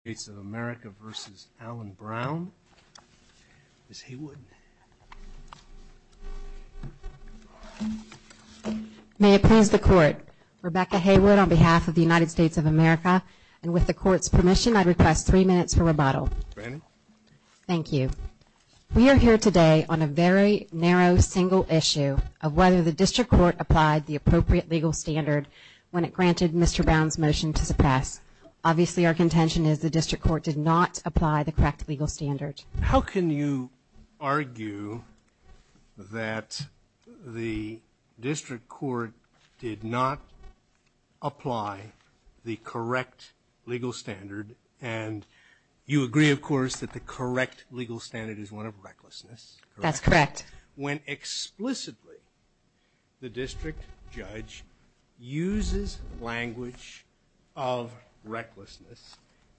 States of America vs. Alan Brown. Ms. Haywood. May it please the Court. Rebecca Haywood on behalf of the United States of America. And with the Court's permission, I request three minutes for rebuttal. Thank you. We are here today on a very narrow, single issue of whether the District Court applied the appropriate legal standard when it granted Mr. Brown's motion to suppress. Obviously, our contention is the District Court did not apply the correct legal standard. How can you argue that the District Court did not apply the correct legal standard, and you agree, of course, that the correct legal standard is one of recklessness. That's correct. When explicitly the District Judge uses language of recklessness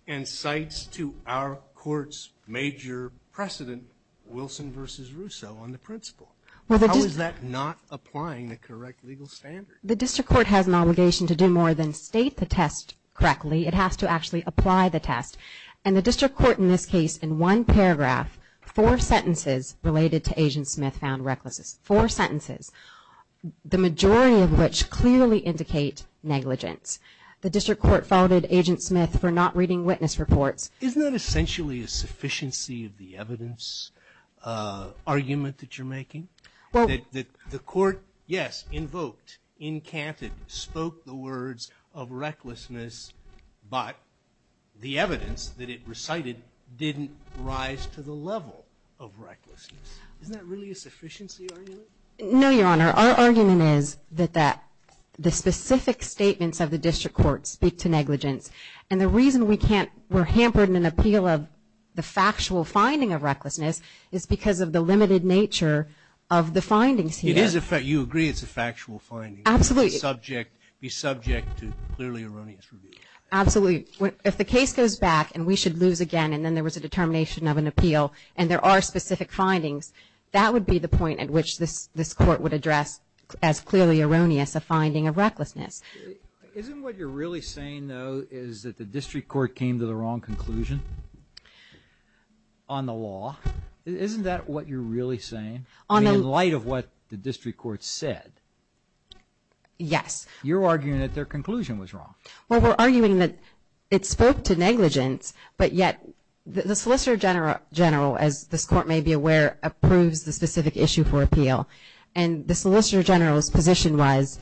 and cites to our Court's major precedent, Wilson vs. Russo, on the principle. How is that not applying the correct legal standard? The District Court has an obligation to do more than state the test correctly. It has to actually apply the test, and the District Court in this case, in one paragraph, four sentences related to Agent Smith found recklessness. Four sentences. The majority of which clearly indicate negligence. The District Court faulted Agent Smith for not reading witness reports. Isn't that essentially a sufficiency of the evidence argument that you're making? The Court, yes, invoked, encanted, spoke the words of recklessness, but the evidence that it recited didn't rise to the level of recklessness. Isn't that really a sufficiency argument? No, Your Honor. Our argument is that the specific statements of the District Court speak to negligence, and the reason we're hampered in an appeal of the factual finding of recklessness is because of the limited nature of the findings here. You agree it's a factual finding? Absolutely. If the case goes back and we should lose again and then there was a determination of an appeal and there are specific findings, that would be the point at which this Court would address Isn't what you're really saying, though, is that the District Court came to the wrong conclusion on the law? Isn't that what you're really saying, in light of what the District Court said? Yes. You're arguing that their conclusion was wrong. Well, we're arguing that it spoke to negligence, but yet the Solicitor General, as this Court may be aware, approves the specific issue for appeal. The Solicitor General's position was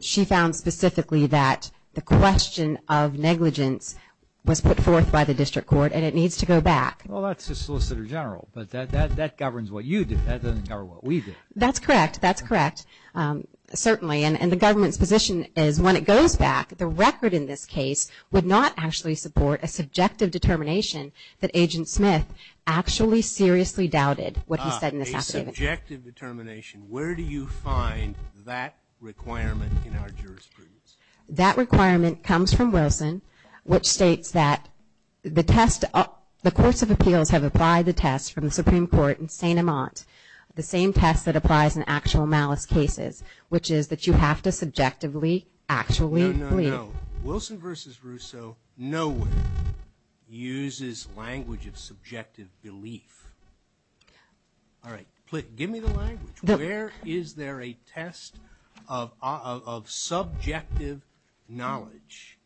she found specifically that the question of negligence was put forth by the District Court and it needs to go back. Well, that's the Solicitor General, but that governs what you do. That doesn't govern what we do. That's correct. Certainly. And the government's position is when it goes back, the record in this case would not actually support a subjective determination that Agent Smith actually seriously doubted what he said in this affidavit. A subjective determination. Where do you find that requirement in our jurisprudence? That requirement comes from Wilson, which states that the test, the courts of appeals have applied the test from the Supreme Court in St. Amant, the same test that applies in actual malice cases, which is that you have to subjectively actually believe. No, no, no. Wilson v. Russo nowhere uses language of subjective belief. All right. Give me the language. Where is there a test of subjective knowledge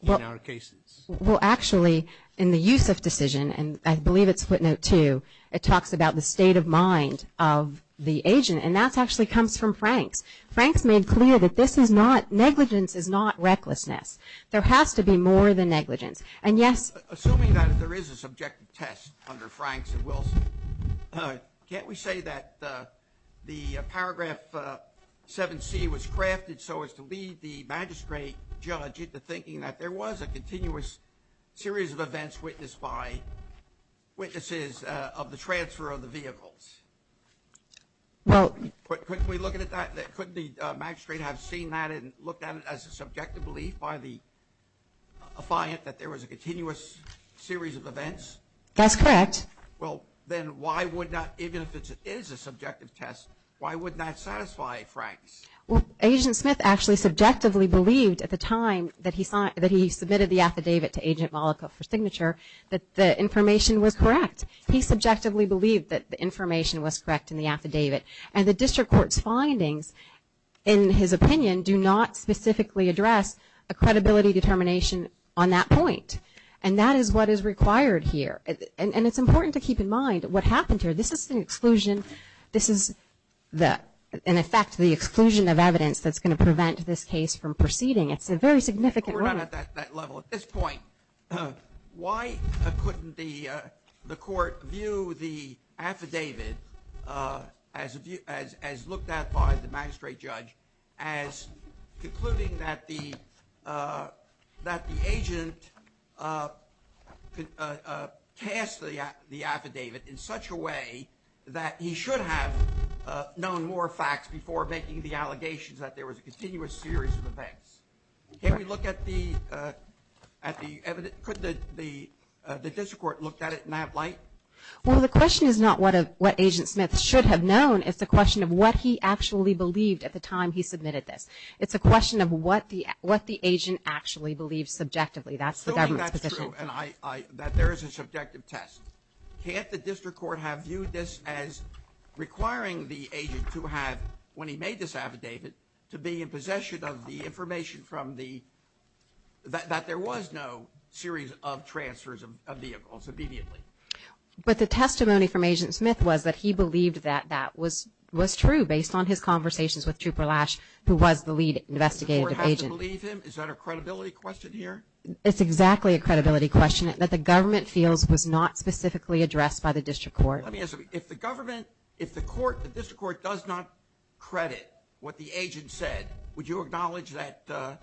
in our cases? Well, actually, in the Yusuf decision, and I believe it's footnote two, it talks about the state of mind of the agent, and that actually comes from Franks. Franks made clear that this is not, negligence is not recklessness. There has to be more than negligence. And yes. Assuming that there is a subjective test under Franks and Wilson, can't we say that the paragraph 7C was crafted so as to lead the magistrate judge into thinking that there was a continuous series of events which witnessed by witnesses of the transfer of the vehicles? Well, couldn't we look at that, couldn't the magistrate have seen that and looked at it as a subjective belief by the affiant that there was a continuous series of events? That's correct. Well, then why would not, even if it is a subjective test, why would that satisfy Franks? Well, Agent Smith actually subjectively believed at the time that he submitted the affidavit to Agent Malika for signature that the information was correct. He subjectively believed that the information was correct in the affidavit. And the district court's findings, in his opinion, do not specifically address a credibility determination on that point. And that is what is required here. And it's important to keep in mind what happened here. This is an exclusion. This is the, in effect, the exclusion of evidence that's going to prevent this case from proceeding. It's a very significant one. We're not at that level at this point. Why couldn't the court view the affidavit as looked at by the magistrate judge as concluding that the agent passed the affidavit in such a way that he should have known more facts before making the allegations that there was a continuous series of events? Could the district court look at it in that light? Well, the question is not what Agent Smith should have known. It's a question of what he actually believed at the time he submitted this. It's a question of what the agent actually believed subjectively. That's the government's position. Assuming that's true and that there is a subjective test. Can't the district court have viewed this as requiring the agent to have, when he made this affidavit, to be in possession of the information from the, that there was no series of transfers of vehicles immediately? But the testimony from Agent Smith was that he believed that that was true based on his conversations with Trooper Lash, who was the lead investigative agent. Does the court have to believe him? Is that a credibility question here? It's exactly a credibility question that the government feels was not specifically addressed by the district court. Let me ask you, if the government, if the district court does not credit what the agent said, would you acknowledge that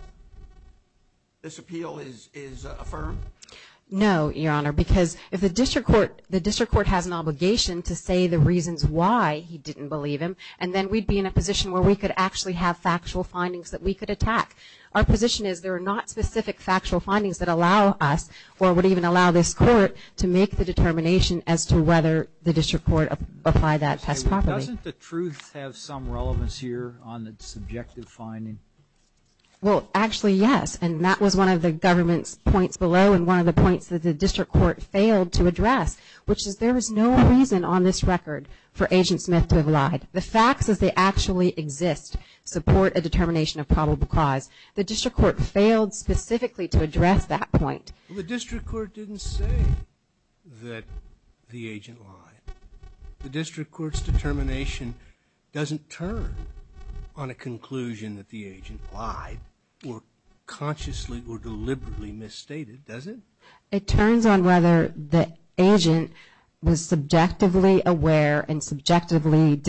this appeal is affirmed? No, Your Honor, because if the district court has an obligation to say the reasons why he didn't believe him, and then we'd be in a position where we could actually have factual findings that we could attack. Our position is there are not specific factual findings that allow us or would even allow this court to make the determination as to whether the district court applied that test properly. Doesn't the truth have some relevance here on the subjective finding? Well, actually, yes, and that was one of the government's points below and one of the points that the district court failed to address, which is there is no reason on this record for Agent Smith to have lied. The facts as they actually exist support a determination of probable cause. The district court failed specifically to address that point. The district court didn't say that the agent lied. The district court's determination doesn't turn on a conclusion that the agent lied, or consciously or deliberately misstated, does it? It turns on whether the agent was subjectively aware and subjectively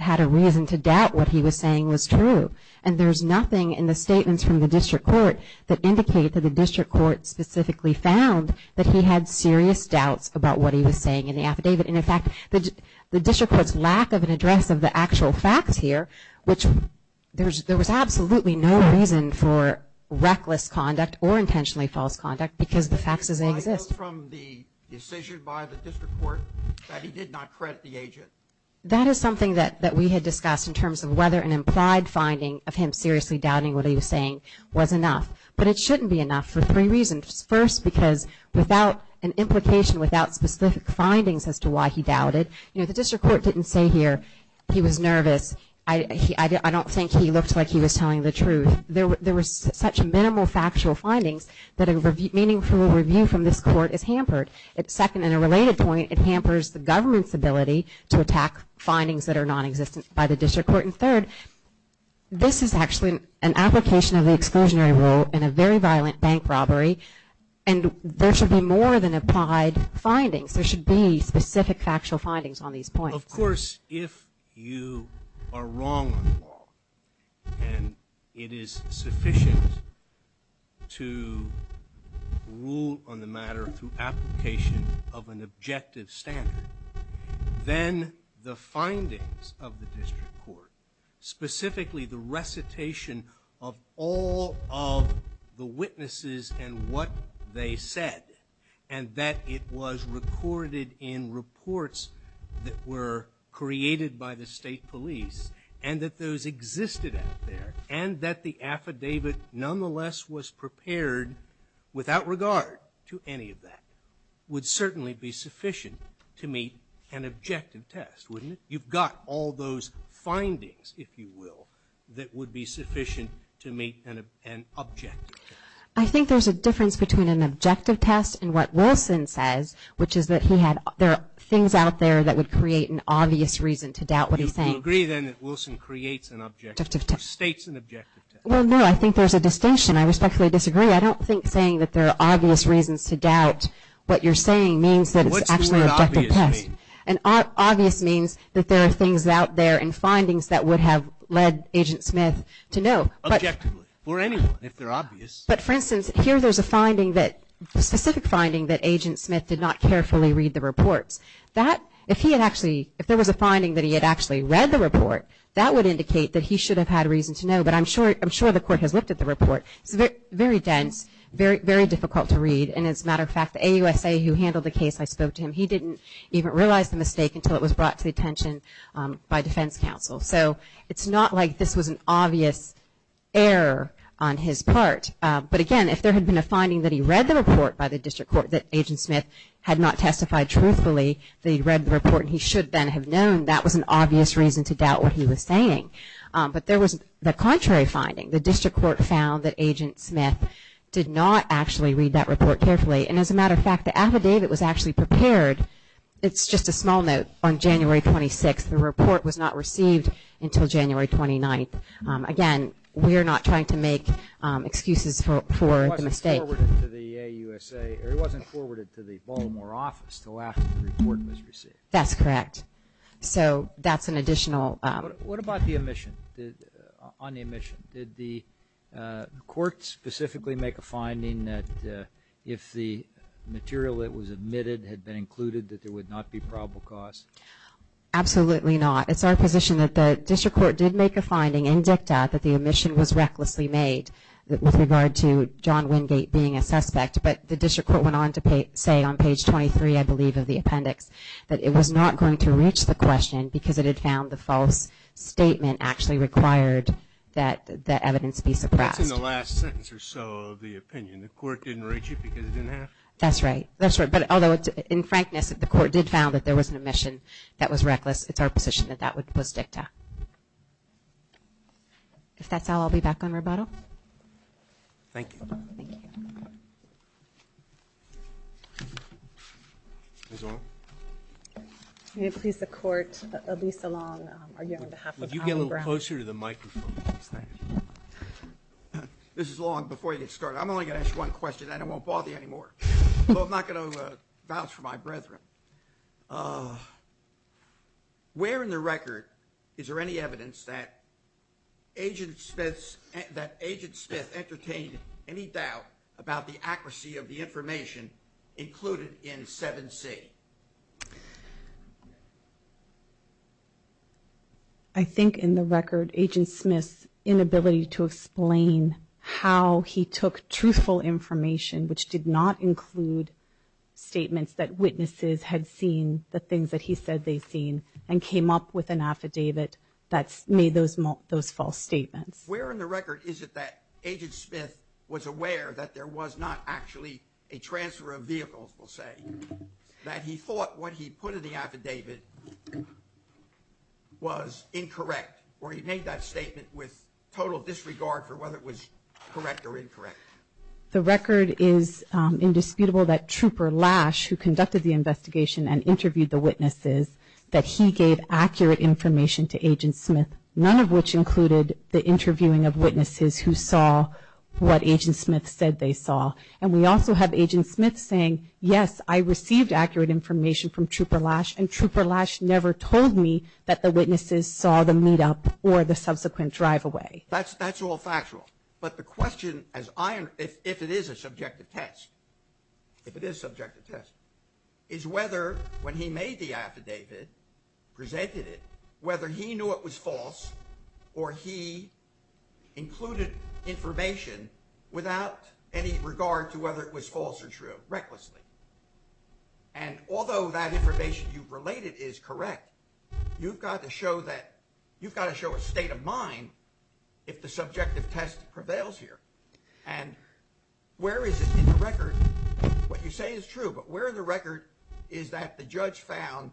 had a reason to doubt what he was saying was true, and there's nothing in the statements from the district court that indicate that the district court specifically found that he had serious doubts about what he was saying in the affidavit. In fact, the district court's lack of an address of the actual facts here, which there was absolutely no reason for reckless conduct or intentionally false conduct because the facts as they exist. I know from the decision by the district court that he did not credit the agent. That is something that we had discussed in terms of whether an implied finding of him seriously doubting what he was saying was enough, but it shouldn't be enough for three reasons. First, because without an implication, without specific findings as to why he doubted, the district court didn't say here he was nervous. I don't think he looked like he was telling the truth. There were such minimal factual findings that a meaningful review from this court is hampered. Second, in a related point, it hampers the government's ability to attack findings that are nonexistent by the district court. And third, this is actually an application of the exclusionary rule in a very violent bank robbery, and there should be more than implied findings. There should be specific factual findings on these points. Of course, if you are wrong on the law and it is sufficient to rule on the matter through application of an objective standard, then the findings of the district court, specifically the recitation of all of the witnesses and what they said, and that it was recorded in reports that were created by the state police, and that those existed out there, and that the affidavit nonetheless was prepared without regard to any of that, would certainly be sufficient to meet an objective test, wouldn't it? You've got all those findings, if you will, that would be sufficient to meet an objective test. I think there's a difference between an objective test and what Wilson says, which is that there are things out there that would create an obvious reason to doubt what he's saying. Do you agree, then, that Wilson creates an objective test or states an objective test? Well, no, I think there's a distinction. I respectfully disagree. I don't think saying that there are obvious reasons to doubt what you're saying means that it's actually an objective test. What does the word obvious mean? Obvious means that there are things out there and findings that would have led Agent Smith to know. Objectively, for anyone, if they're obvious. But, for instance, here there's a specific finding that Agent Smith did not carefully read the reports. If there was a finding that he had actually read the report, that would indicate that he should have had a reason to know, but I'm sure the court has looked at the report. It's very dense, very difficult to read, and as a matter of fact, the AUSA who handled the case I spoke to him, he didn't even realize the mistake until it was brought to the attention by defense counsel. So it's not like this was an obvious error on his part. But, again, if there had been a finding that he read the report by the district court that Agent Smith had not testified truthfully, that he read the report and he should then have known, that was an obvious reason to doubt what he was saying. But there was the contrary finding. The district court found that Agent Smith did not actually read that report carefully, and as a matter of fact, the affidavit was actually prepared, it's just a small note, on January 26th. The report was not received until January 29th. Again, we are not trying to make excuses for the mistake. It wasn't forwarded to the Baltimore office until after the report was received. That's correct. What about the omission? Did the court specifically make a finding that if the material that was omitted had been included that there would not be probable cause? Absolutely not. It's our position that the district court did make a finding in dicta that the omission was recklessly made with regard to John Wingate being a suspect. But the district court went on to say on page 23, I believe, of the appendix, that it was not going to reach the question because it had found the false statement actually required that evidence be suppressed. That's in the last sentence or so of the opinion. The court didn't reach it because it didn't have to? That's right. Thank you. I'm going to ask one question. I won't bother you anymore. I'm not going to vouch for my brethren. Where in the record is there any evidence that there was a false statement? I think in the record, agent Smith's inability to explain how he took truthful information, which did not include statements that witnesses had seen the things that he said they'd seen and came up with an affidavit that made those false statements. Where in the record is it that agent Smith was aware that there was not actually a transfer of vehicles, we'll say, that he thought what he put in the affidavit was incorrect, or he made that statement with total disregard for whether it was correct or incorrect? The record is indisputable that Trooper Lash, who conducted the investigation and interviewed the witnesses, that he gave accurate information to agent Smith, none of which included the interviewing of witnesses who saw what agent Smith said they saw. And we also have agent Smith saying, yes, I received accurate information from Trooper Lash, and Trooper Lash never told me that the witnesses saw the meetup or the subsequent drive away. That's all factual. But the question, if it is a subjective test, if it is a subjective test, is whether when he made the affidavit, presented it, whether he knew it was false or he included information without any regard to whether it was false or true, recklessly. And although that information you've related is correct, you've got to show that you've got to show a state of mind if the subjective test prevails here. And where is it in the record? What you say is true, but where the record is that the judge found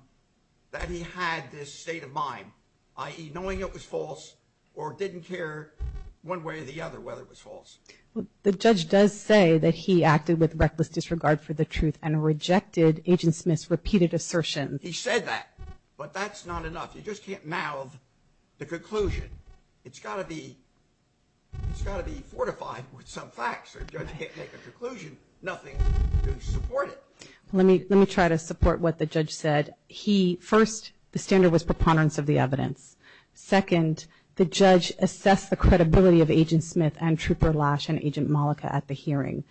that he had this state of mind, i.e. knowing it was false or didn't care one way or the other whether it was false. The judge does say that he acted with reckless disregard for the truth and rejected agent Smith's repeated assertion. He said that, but that's not enough. You just can't mouth the conclusion. It's got to be, it's got to be fortified with some facts. If the judge can't make a conclusion, nothing to support it. Let me try to support what the judge said. First, the standard was preponderance of the evidence. Second, the judge assessed the credibility of agent Smith and Trooper Lash and agent Mollica at the hearing.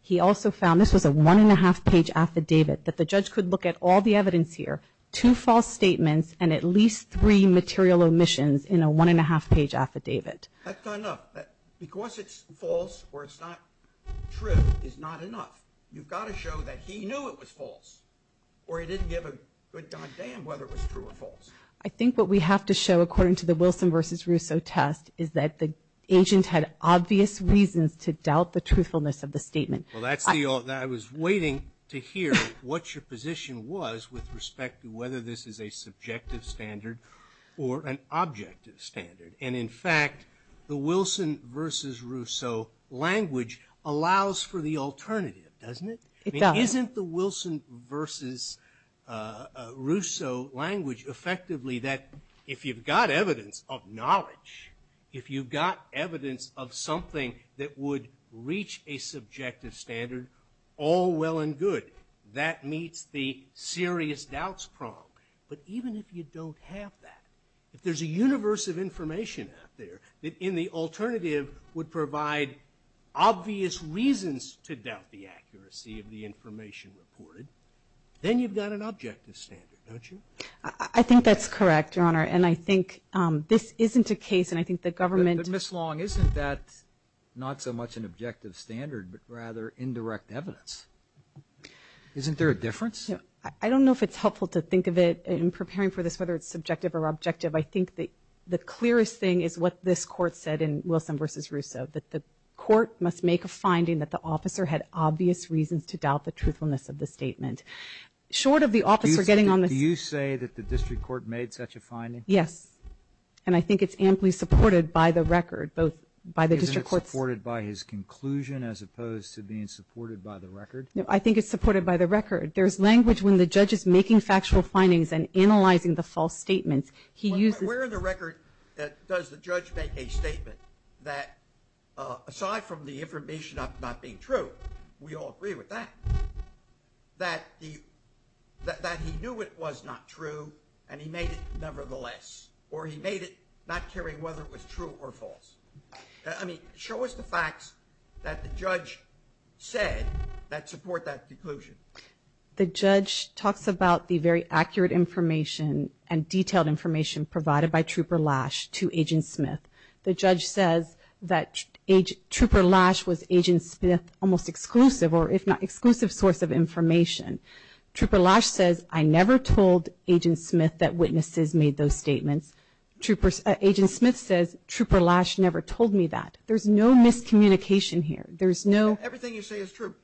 He also found, this was a one and a half page affidavit, that the judge could look at all the evidence here, two false statements and at least three material omissions in a one and a half page affidavit. That's not enough. Because it's false or it's not true is not enough. You've got to show that he knew it was false or he didn't give a good goddamn whether it was true or false. I think what we have to show, according to the Wilson versus Russo test, is that the agent had obvious reasons to doubt the truthfulness of the statement. Well, I was waiting to hear what your position was with respect to whether this is a subjective standard or an objective standard. And in fact, the Wilson versus Russo language allows for the alternative, doesn't it? It does. Isn't the Wilson versus Russo language effectively that if you've got evidence of knowledge, if you've got evidence of something that would reach a subjective standard, all well and good. That meets the serious doubts prong. But even if you don't have that, if there's a universe of information out there, that in the alternative would provide obvious reasons to doubt the accuracy of the information reported, then you've got an objective standard, don't you? I think that's correct, Your Honor. And I think this isn't a case, and I think the government... But Ms. Long, isn't that not so much an objective standard, but rather indirect evidence? Isn't there a difference? I don't know if it's helpful to think of it in preparing for this, whether it's subjective or objective. I think the clearest thing is what this Court said in Wilson versus Russo, that the Court must make a finding that the officer had obvious reasons to doubt the truthfulness of the statement. Short of the officer getting on the... Do you say that the district court made such a finding? Yes. And I think it's amply supported by the record, both by the district courts... Isn't it supported by his conclusion as opposed to being supported by the record? No, I think it's supported by the record. There's language when the judge is making factual findings and analyzing the false statements. Where in the record does the judge make a statement that, aside from the information not being true, but we all agree with that, that he knew it was not true and he made it nevertheless, or he made it not caring whether it was true or false. Show us the facts that the judge said that support that conclusion. The judge talks about the very accurate information and detailed information provided by Trooper Lash to Agent Smith. The judge says that Trooper Lash was Agent Smith's almost exclusive, or if not exclusive, source of information. Trooper Lash says, I never told Agent Smith that witnesses made those statements. Agent Smith says, Trooper Lash never told me that. There's no miscommunication here. Everything you say is true.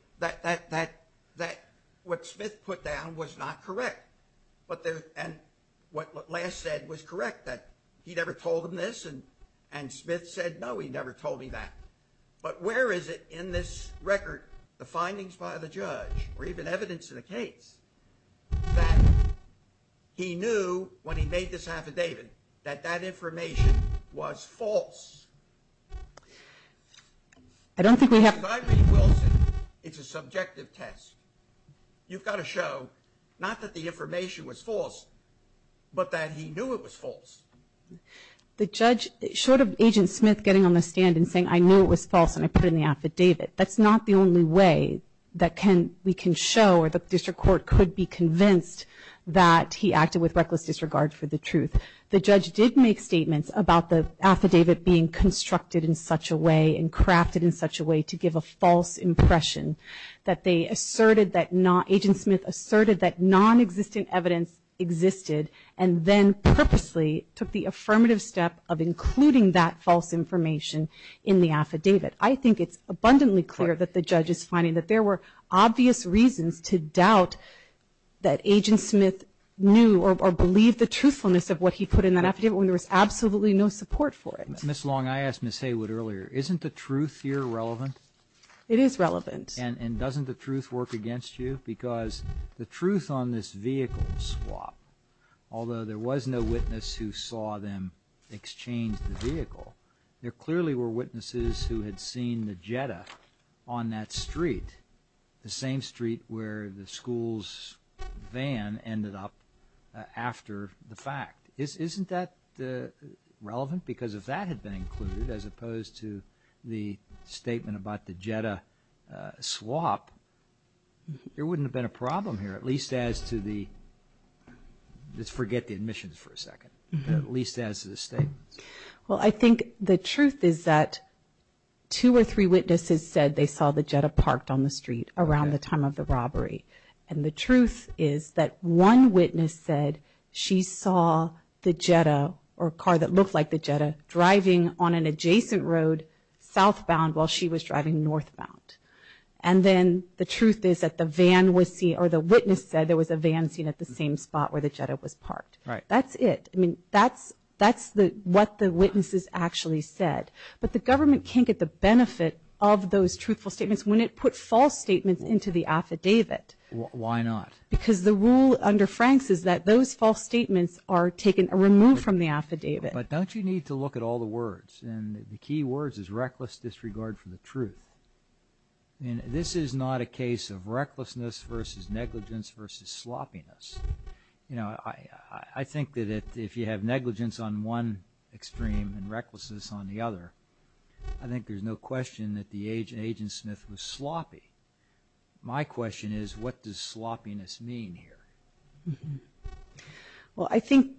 What Smith put down was not correct, and what Lash said was correct, that he never told him this, and Smith said, no, he never told me that. But where is it in this record, the findings by the judge, or even evidence in the case, that he knew when he made this affidavit that that information was false? If I read Wilson, it's a subjective test. You've got to show not that the information was false, but that he knew it was false. The judge, short of Agent Smith getting on the stand and saying, I knew it was false, and I put it in the affidavit, that's not the only way that we can show, or the district court could be convinced that he acted with reckless disregard for the truth. The judge did make statements about the affidavit being constructed in such a way and crafted in such a way to give a false impression, that they asserted that not, Agent Smith asserted that nonexistent evidence existed, and then purposely took the affirmative step of including that false information in the affidavit. I think it's abundantly clear that the judge is finding that there were obvious reasons to doubt that Agent Smith knew or believed the truthfulness of what he put in that affidavit when there was absolutely no support for it. Ms. Long, I asked Ms. Haywood earlier, isn't the truth here relevant? It is relevant. And doesn't the truth work against you? Because the truth on this vehicle swap, although there was no witness who saw them exchange the vehicle, there clearly were witnesses who had seen the Jetta on that street, the same street where the school's van ended up after the fact. Isn't that relevant? Because if that had been included as opposed to the statement about the Jetta swap, there wouldn't have been a problem here, at least as to the, let's forget the admissions for a second, at least as to the statements. Well, I think the truth is that two or three witnesses said they saw the Jetta parked on the street around the time of the robbery. And the truth is that one witness said she saw the Jetta, or a car that looked like the Jetta, driving on an adjacent road southbound while she was driving northbound. And then the truth is that the witness said there was a van seen at the same spot where the Jetta was parked. That's it. I mean, that's what the witnesses actually said. But the government can't get the benefit of those truthful statements when it put false statements into the affidavit. Why not? Because the rule under Franks is that those false statements are taken, removed from the affidavit. But don't you need to look at all the words? And the key words is reckless disregard for the truth. I mean, this is not a case of recklessness versus negligence versus sloppiness. You know, I think that if you have negligence on one extreme and recklessness on the other, I think there's no question that the agent Smith was sloppy. My question is, what does sloppiness mean here? Well, I think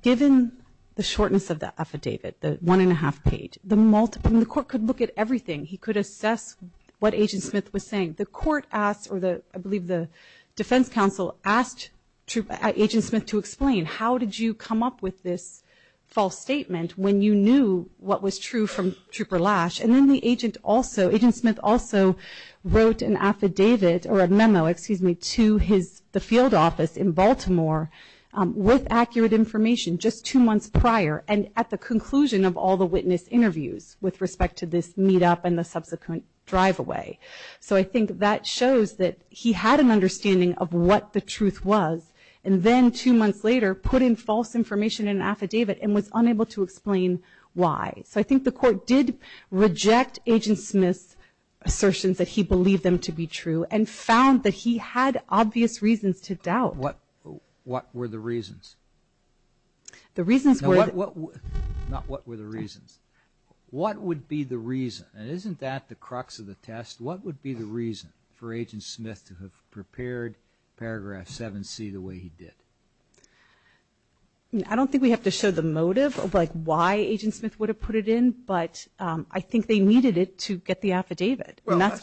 given the shortness of the affidavit, the one and a half page, the court could look at everything. He could assess what Agent Smith was saying. The defense counsel asked Agent Smith to explain how did you come up with this false statement when you knew what was true from Trooper Lash? And then the agent also, Agent Smith also wrote an affidavit or a memo, excuse me, to the field office in Baltimore with accurate information just two months prior and at the conclusion of all the witness interviews with respect to this meetup and the subsequent drive away. So I think that shows that he had an understanding of what the truth was. And then two months later, put in false information in an affidavit and was unable to explain why. So I think the court did reject Agent Smith's assertions that he believed them to be true and found that he had obvious reasons to doubt. What were the reasons? What would be the reason? And isn't that the crux of the test? What would be the reason for Agent Smith to have prepared Paragraph 7C the way he did? I don't think we have to show the motive of like why Agent Smith would have put it in, but I think they needed it to get the affidavit. That's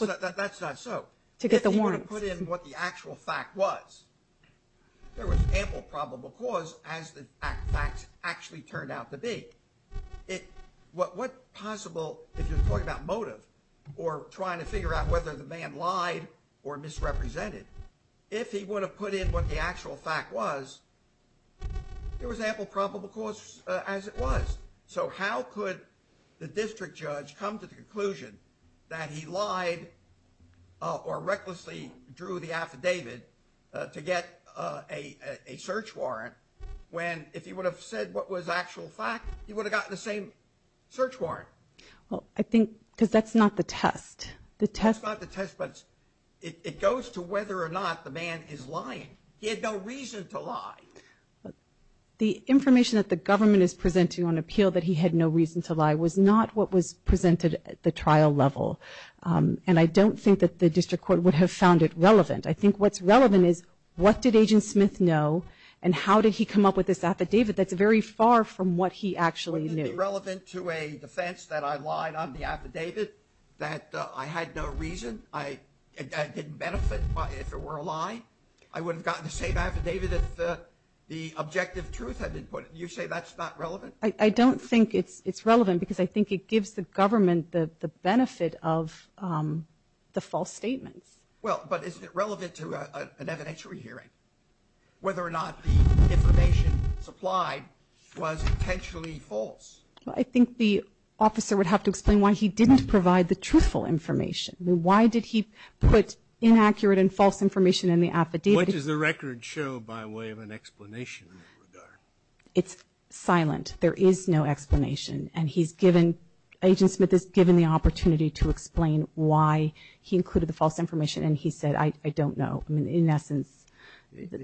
not so. To get the warrant. There was ample probable cause as the facts actually turned out to be. What possible, if you're talking about motive or trying to figure out whether the man lied or misrepresented, if he would have put in what the actual fact was, there was ample probable cause as it was. So how could the district judge come to the conclusion that he lied or recklessly drew the affidavit to get a search warrant when if he would have said what was actual fact, he would have gotten the same search warrant? Well, I think because that's not the test. It goes to whether or not the man is lying. He had no reason to lie. The information that the government is presenting on appeal that he had no reason to lie was not what was presented at the trial level. And I don't think that the district court would have found it relevant. I think what's relevant is what did Agent Smith know and how did he come up with this affidavit that's very far from what he actually knew? Was it relevant to a defense that I lied on the affidavit, that I had no reason, I didn't benefit if it were a lie? I would have gotten the same affidavit if the objective truth had been put in. You say that's not relevant? I don't think it's relevant because I think it gives the government the benefit of the false statements. Well, but is it relevant to an evidentiary hearing? Whether or not the information supplied was potentially false? I think the officer would have to explain why he didn't provide the truthful information. Why did he put inaccurate and false information in the affidavit? What does the record show by way of an explanation in that regard? It's silent. There is no explanation. And Agent Smith is given the opportunity to explain why he included the false information and he said, I don't know. In essence,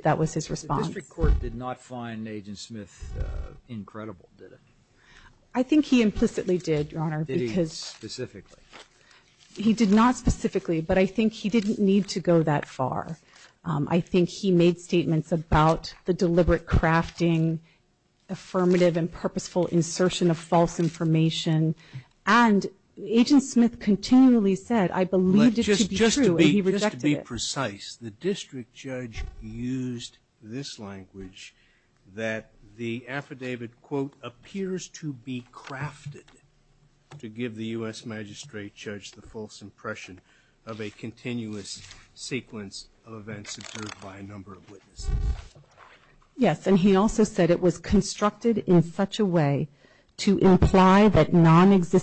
that was his response. The district court did not find Agent Smith incredible, did it? I think he implicitly did, Your Honor. He did not specifically, but I think he didn't need to go that far. I think he made statements about the deliberate crafting, affirmative and purposeful insertion of false information. And Agent Smith continually said, I believed it to be true and he rejected it. To be precise, the district judge used this language that the affidavit, quote, appears to be crafted to give the U.S. magistrate judge the false impression of a continuous sequence of events observed by a number of witnesses. Yes, and he also said it was constructed in such a way to imply that he was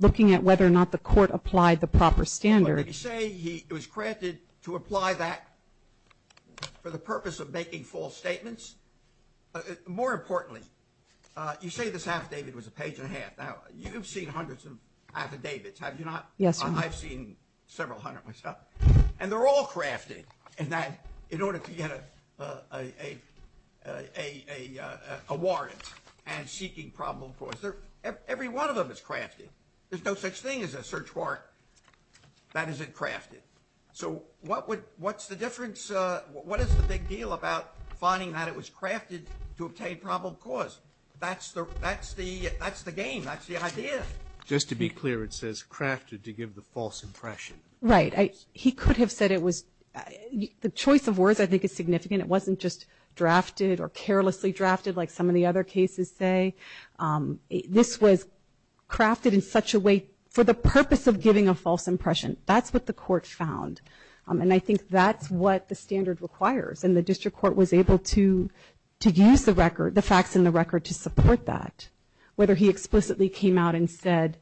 looking at whether or not the court applied the proper standard. It was crafted to apply that for the purpose of making false statements. More importantly, you say this affidavit was a page and a half. Now, you've seen hundreds of affidavits, have you not? Yes, Your Honor. I've seen several hundred myself. And they're all crafted in that in order to get a warrant and seeking probable cause. Every one of them is crafted. There's no such thing as a search warrant that isn't crafted. So what's the difference? What is the big deal about finding that it was crafted to obtain probable cause? That's the game. That's the idea. Just to be clear, it says crafted to give the false impression. Right. He could have said it was the choice of words, I think, is significant. It wasn't just drafted or carelessly drafted, like some of the other cases say. This was crafted in such a way for the purpose of giving a false impression. That's what the court found. And I think that's what the standard requires. And the district court was able to to use the record, the facts in the record to support that, whether he explicitly came out and said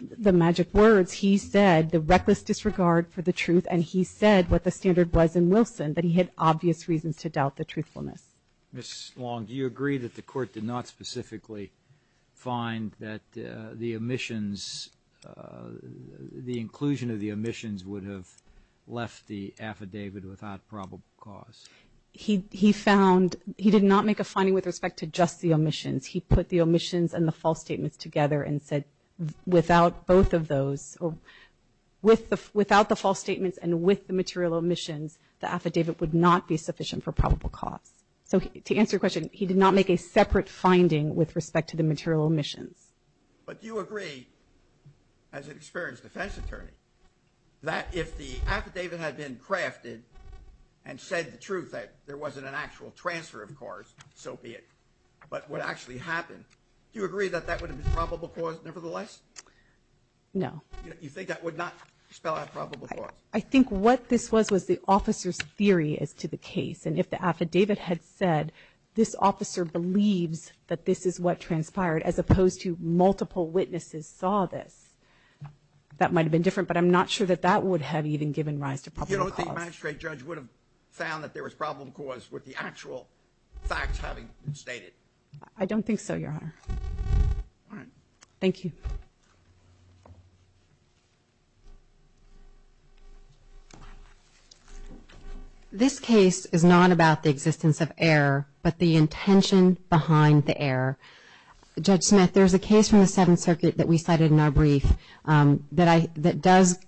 the magic words, he said the reckless disregard for the truth. And he said what the standard was in Wilson, that he had obvious reasons to doubt the truthfulness. Ms. Long, do you agree that the court did not specifically find that the omissions, the inclusion of the omissions would have left the affidavit without probable cause? He found, he did not make a finding with respect to just the omissions. He put the omissions and the false statements together and said without both of those, without the false statements and with the material omissions, the affidavit would not be sufficient for probable cause. So to answer your question, he did not make a separate finding with respect to the material omissions. But do you agree, as an experienced defense attorney, that if the affidavit had been crafted and said the truth, that there wasn't an actual transfer of cause, so be it, but what actually happened, do you agree that that would have been probable cause nevertheless? No. You think that would not spell out probable cause? I think what this was, was the officer's theory as to the case. And if the affidavit had said this officer believes that this is what transpired, as opposed to multiple witnesses saw this, that might have been different. But I'm not sure that that would have even given rise to probable cause. You don't think the magistrate judge would have found that there was probable cause with the actual facts having been stated? I don't think so, Your Honor. Thank you. This case is not about the existence of error, but the intention behind the error. Judge Smith, there's a case from the Seventh Circuit that we cited in our brief that does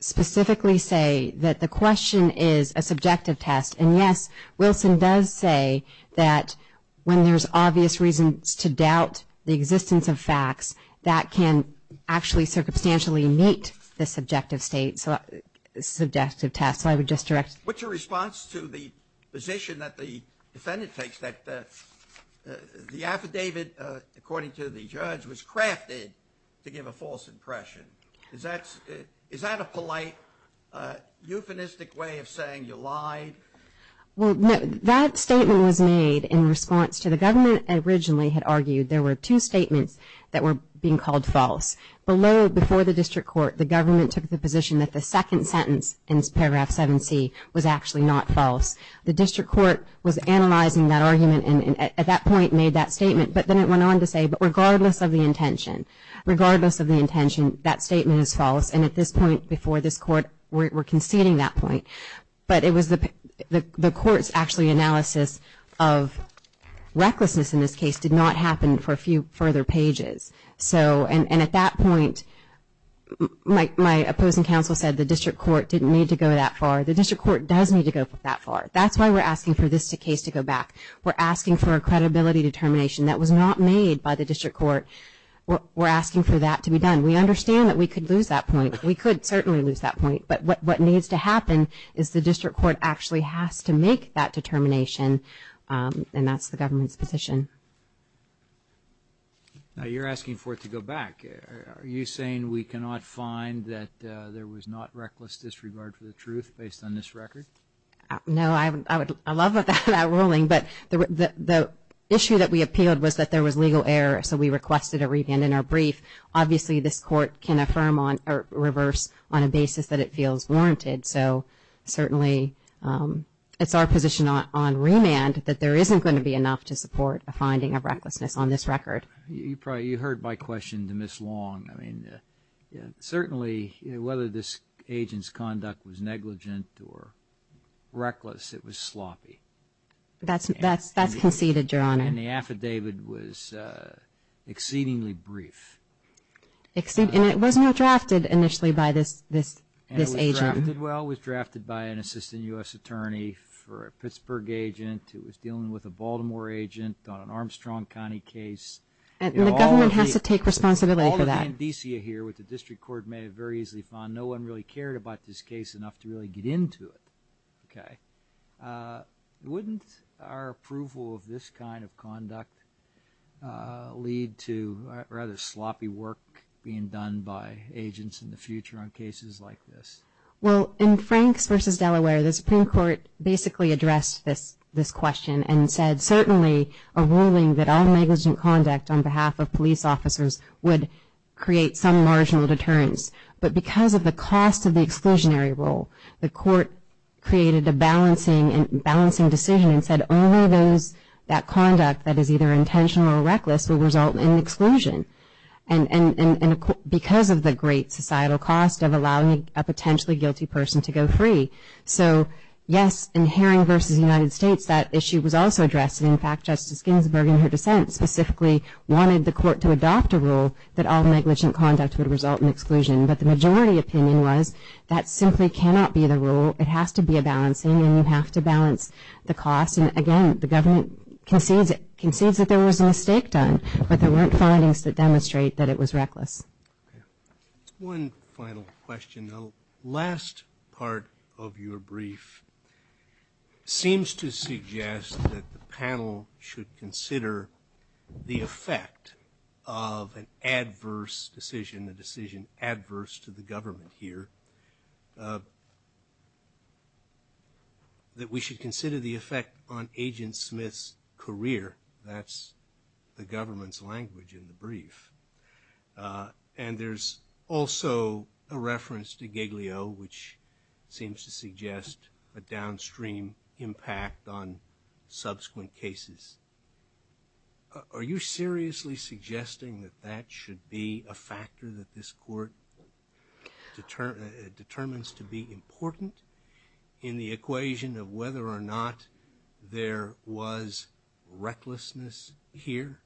specifically say that the question is a subjective test. And yes, Wilson does say that when there's obvious reasons to doubt the existence of facts, that can actually circumstantially meet the subjective test. So I would just direct... What's your response to the position that the defendant takes that the affidavit, according to the judge, was crafted to give a false impression? Is that a polite, euphemistic way of saying you lied? Well, no. That statement was made in response to the government originally had argued there were two statements that were being called false. Below, before the district court, the government took the position that the second sentence in paragraph 7C was actually not false. The district court was analyzing that argument and at that point made that statement. But then it went on to say, but regardless of the intention, regardless of the intention, that statement is false. And at this point, before this court, we're conceding that point. But it was the court's actually analysis of recklessness in this case did not happen for a few further pages. And at that point, my opposing counsel said the district court didn't need to go that far. The district court does need to go that far. That's why we're asking for this case to go back. We're asking for a credibility determination that was not made by the district court. We're asking for that to be done. We understand that we could lose that point. We could certainly lose that point. But what needs to happen is the district court actually has to make that determination. And that's the government's position. Now you're asking for it to go back. Are you saying we cannot find that there was not reckless disregard for the truth based on this record? No, I would love that ruling. But the issue that we appealed was that there was legal error. So we requested a revamp in our brief. Obviously, this court can affirm or reverse on a basis that it feels warranted. So certainly it's our position on remand that there isn't going to be enough to support a finding of recklessness on this record. You heard my question to Ms. Long. Certainly, whether this agent's conduct was negligent or reckless, it was sloppy. That's conceded, Your Honor. And the affidavit was exceedingly brief. And it was not drafted initially by this agent. Well, it was drafted by an assistant U.S. attorney for a Pittsburgh agent who was dealing with a Baltimore agent on an Armstrong County case. And the government has to take responsibility for that. All of the indicia here with the district court may have very easily found no one really cared about this case enough to really get into it. Okay. Wouldn't our approval of this kind of conduct lead to rather sloppy work being done by agents in the future on cases like this? Well, in Franks v. Delaware, the Supreme Court basically addressed this question and said certainly a ruling that all negligent conduct on behalf of police officers would create some marginal deterrence. But because of the cost of the exclusionary rule, the court created a balancing decision and said only that conduct that is either intentional or reckless will result in exclusion. And because of the great societal cost of allowing a potentially guilty person to go free. So yes, in Herring v. United States, that issue was also addressed. In fact, Justice Ginsburg in her dissent specifically wanted the court to adopt a rule that all negligent conduct would result in exclusion. But the majority opinion was that simply cannot be the rule. It has to be a balancing and you have to balance the cost. And again, the government concedes that there was a mistake done. But there weren't findings that demonstrate that it was reckless. One final question. The last part of your brief seems to suggest that the panel should consider the effect of an adverse decision, a decision adverse to the government here. That we should consider the effect on Agent Smith's career. That's the government's language in the brief. And there's also a reference to Giglio, which seems to suggest a downstream impact on subsequent cases. Are you seriously suggesting that that should be a factor that this court determines to be important in the equation of whether or not there was recklessness here?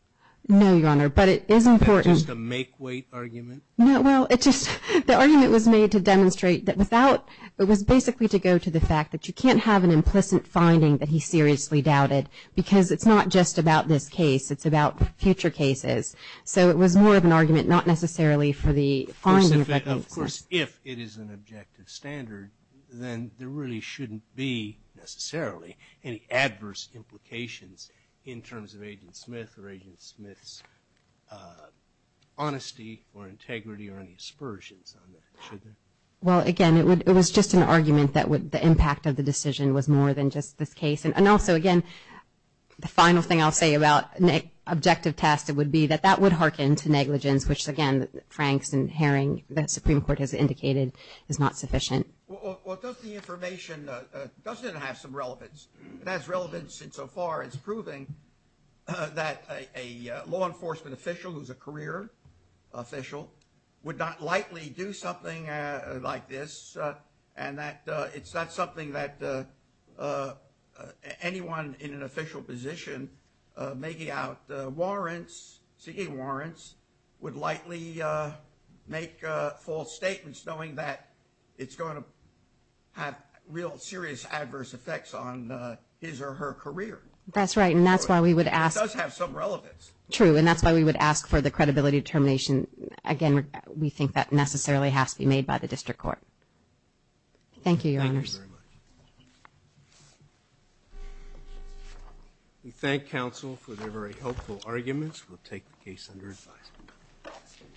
No, Your Honor, but it is important. Is that just a make-weight argument? No, well, it just, the argument was made to demonstrate that without, it was basically to go to the fact that you can't have an implicit finding that he seriously doubted. Because it's not just about this case, it's about future cases. So it was more of an argument, not necessarily for the findings. Of course, if it is an objective standard, then there really shouldn't be, necessarily, any adverse implications in terms of Agent Smith or Agent Smith's honesty or integrity or any aspersions on it, should there? Well, again, it was just an argument that the impact of the decision was more than just this case. And also, again, the final thing I'll say about an objective test, it would be that that would hearken to negligence, which again, Franks and Haring, that Supreme Court has indicated is not sufficient. Well, does the information, does it have some relevance? It has relevance insofar as proving that a law enforcement official who's a career official would not likely do something like this, and that it's not something that anyone in an official position making out seeking warrants would likely make false statements knowing that it's going to have real serious adverse effects on his or her career. That's right, and that's why we would ask. It does have some relevance. True, and that's why we would ask for the credibility determination. Again, we think that necessarily has to be made by the District Court. Thank you, Your Honors. Thank you very much. We thank counsel for their very helpful arguments. We'll take the case under advisement.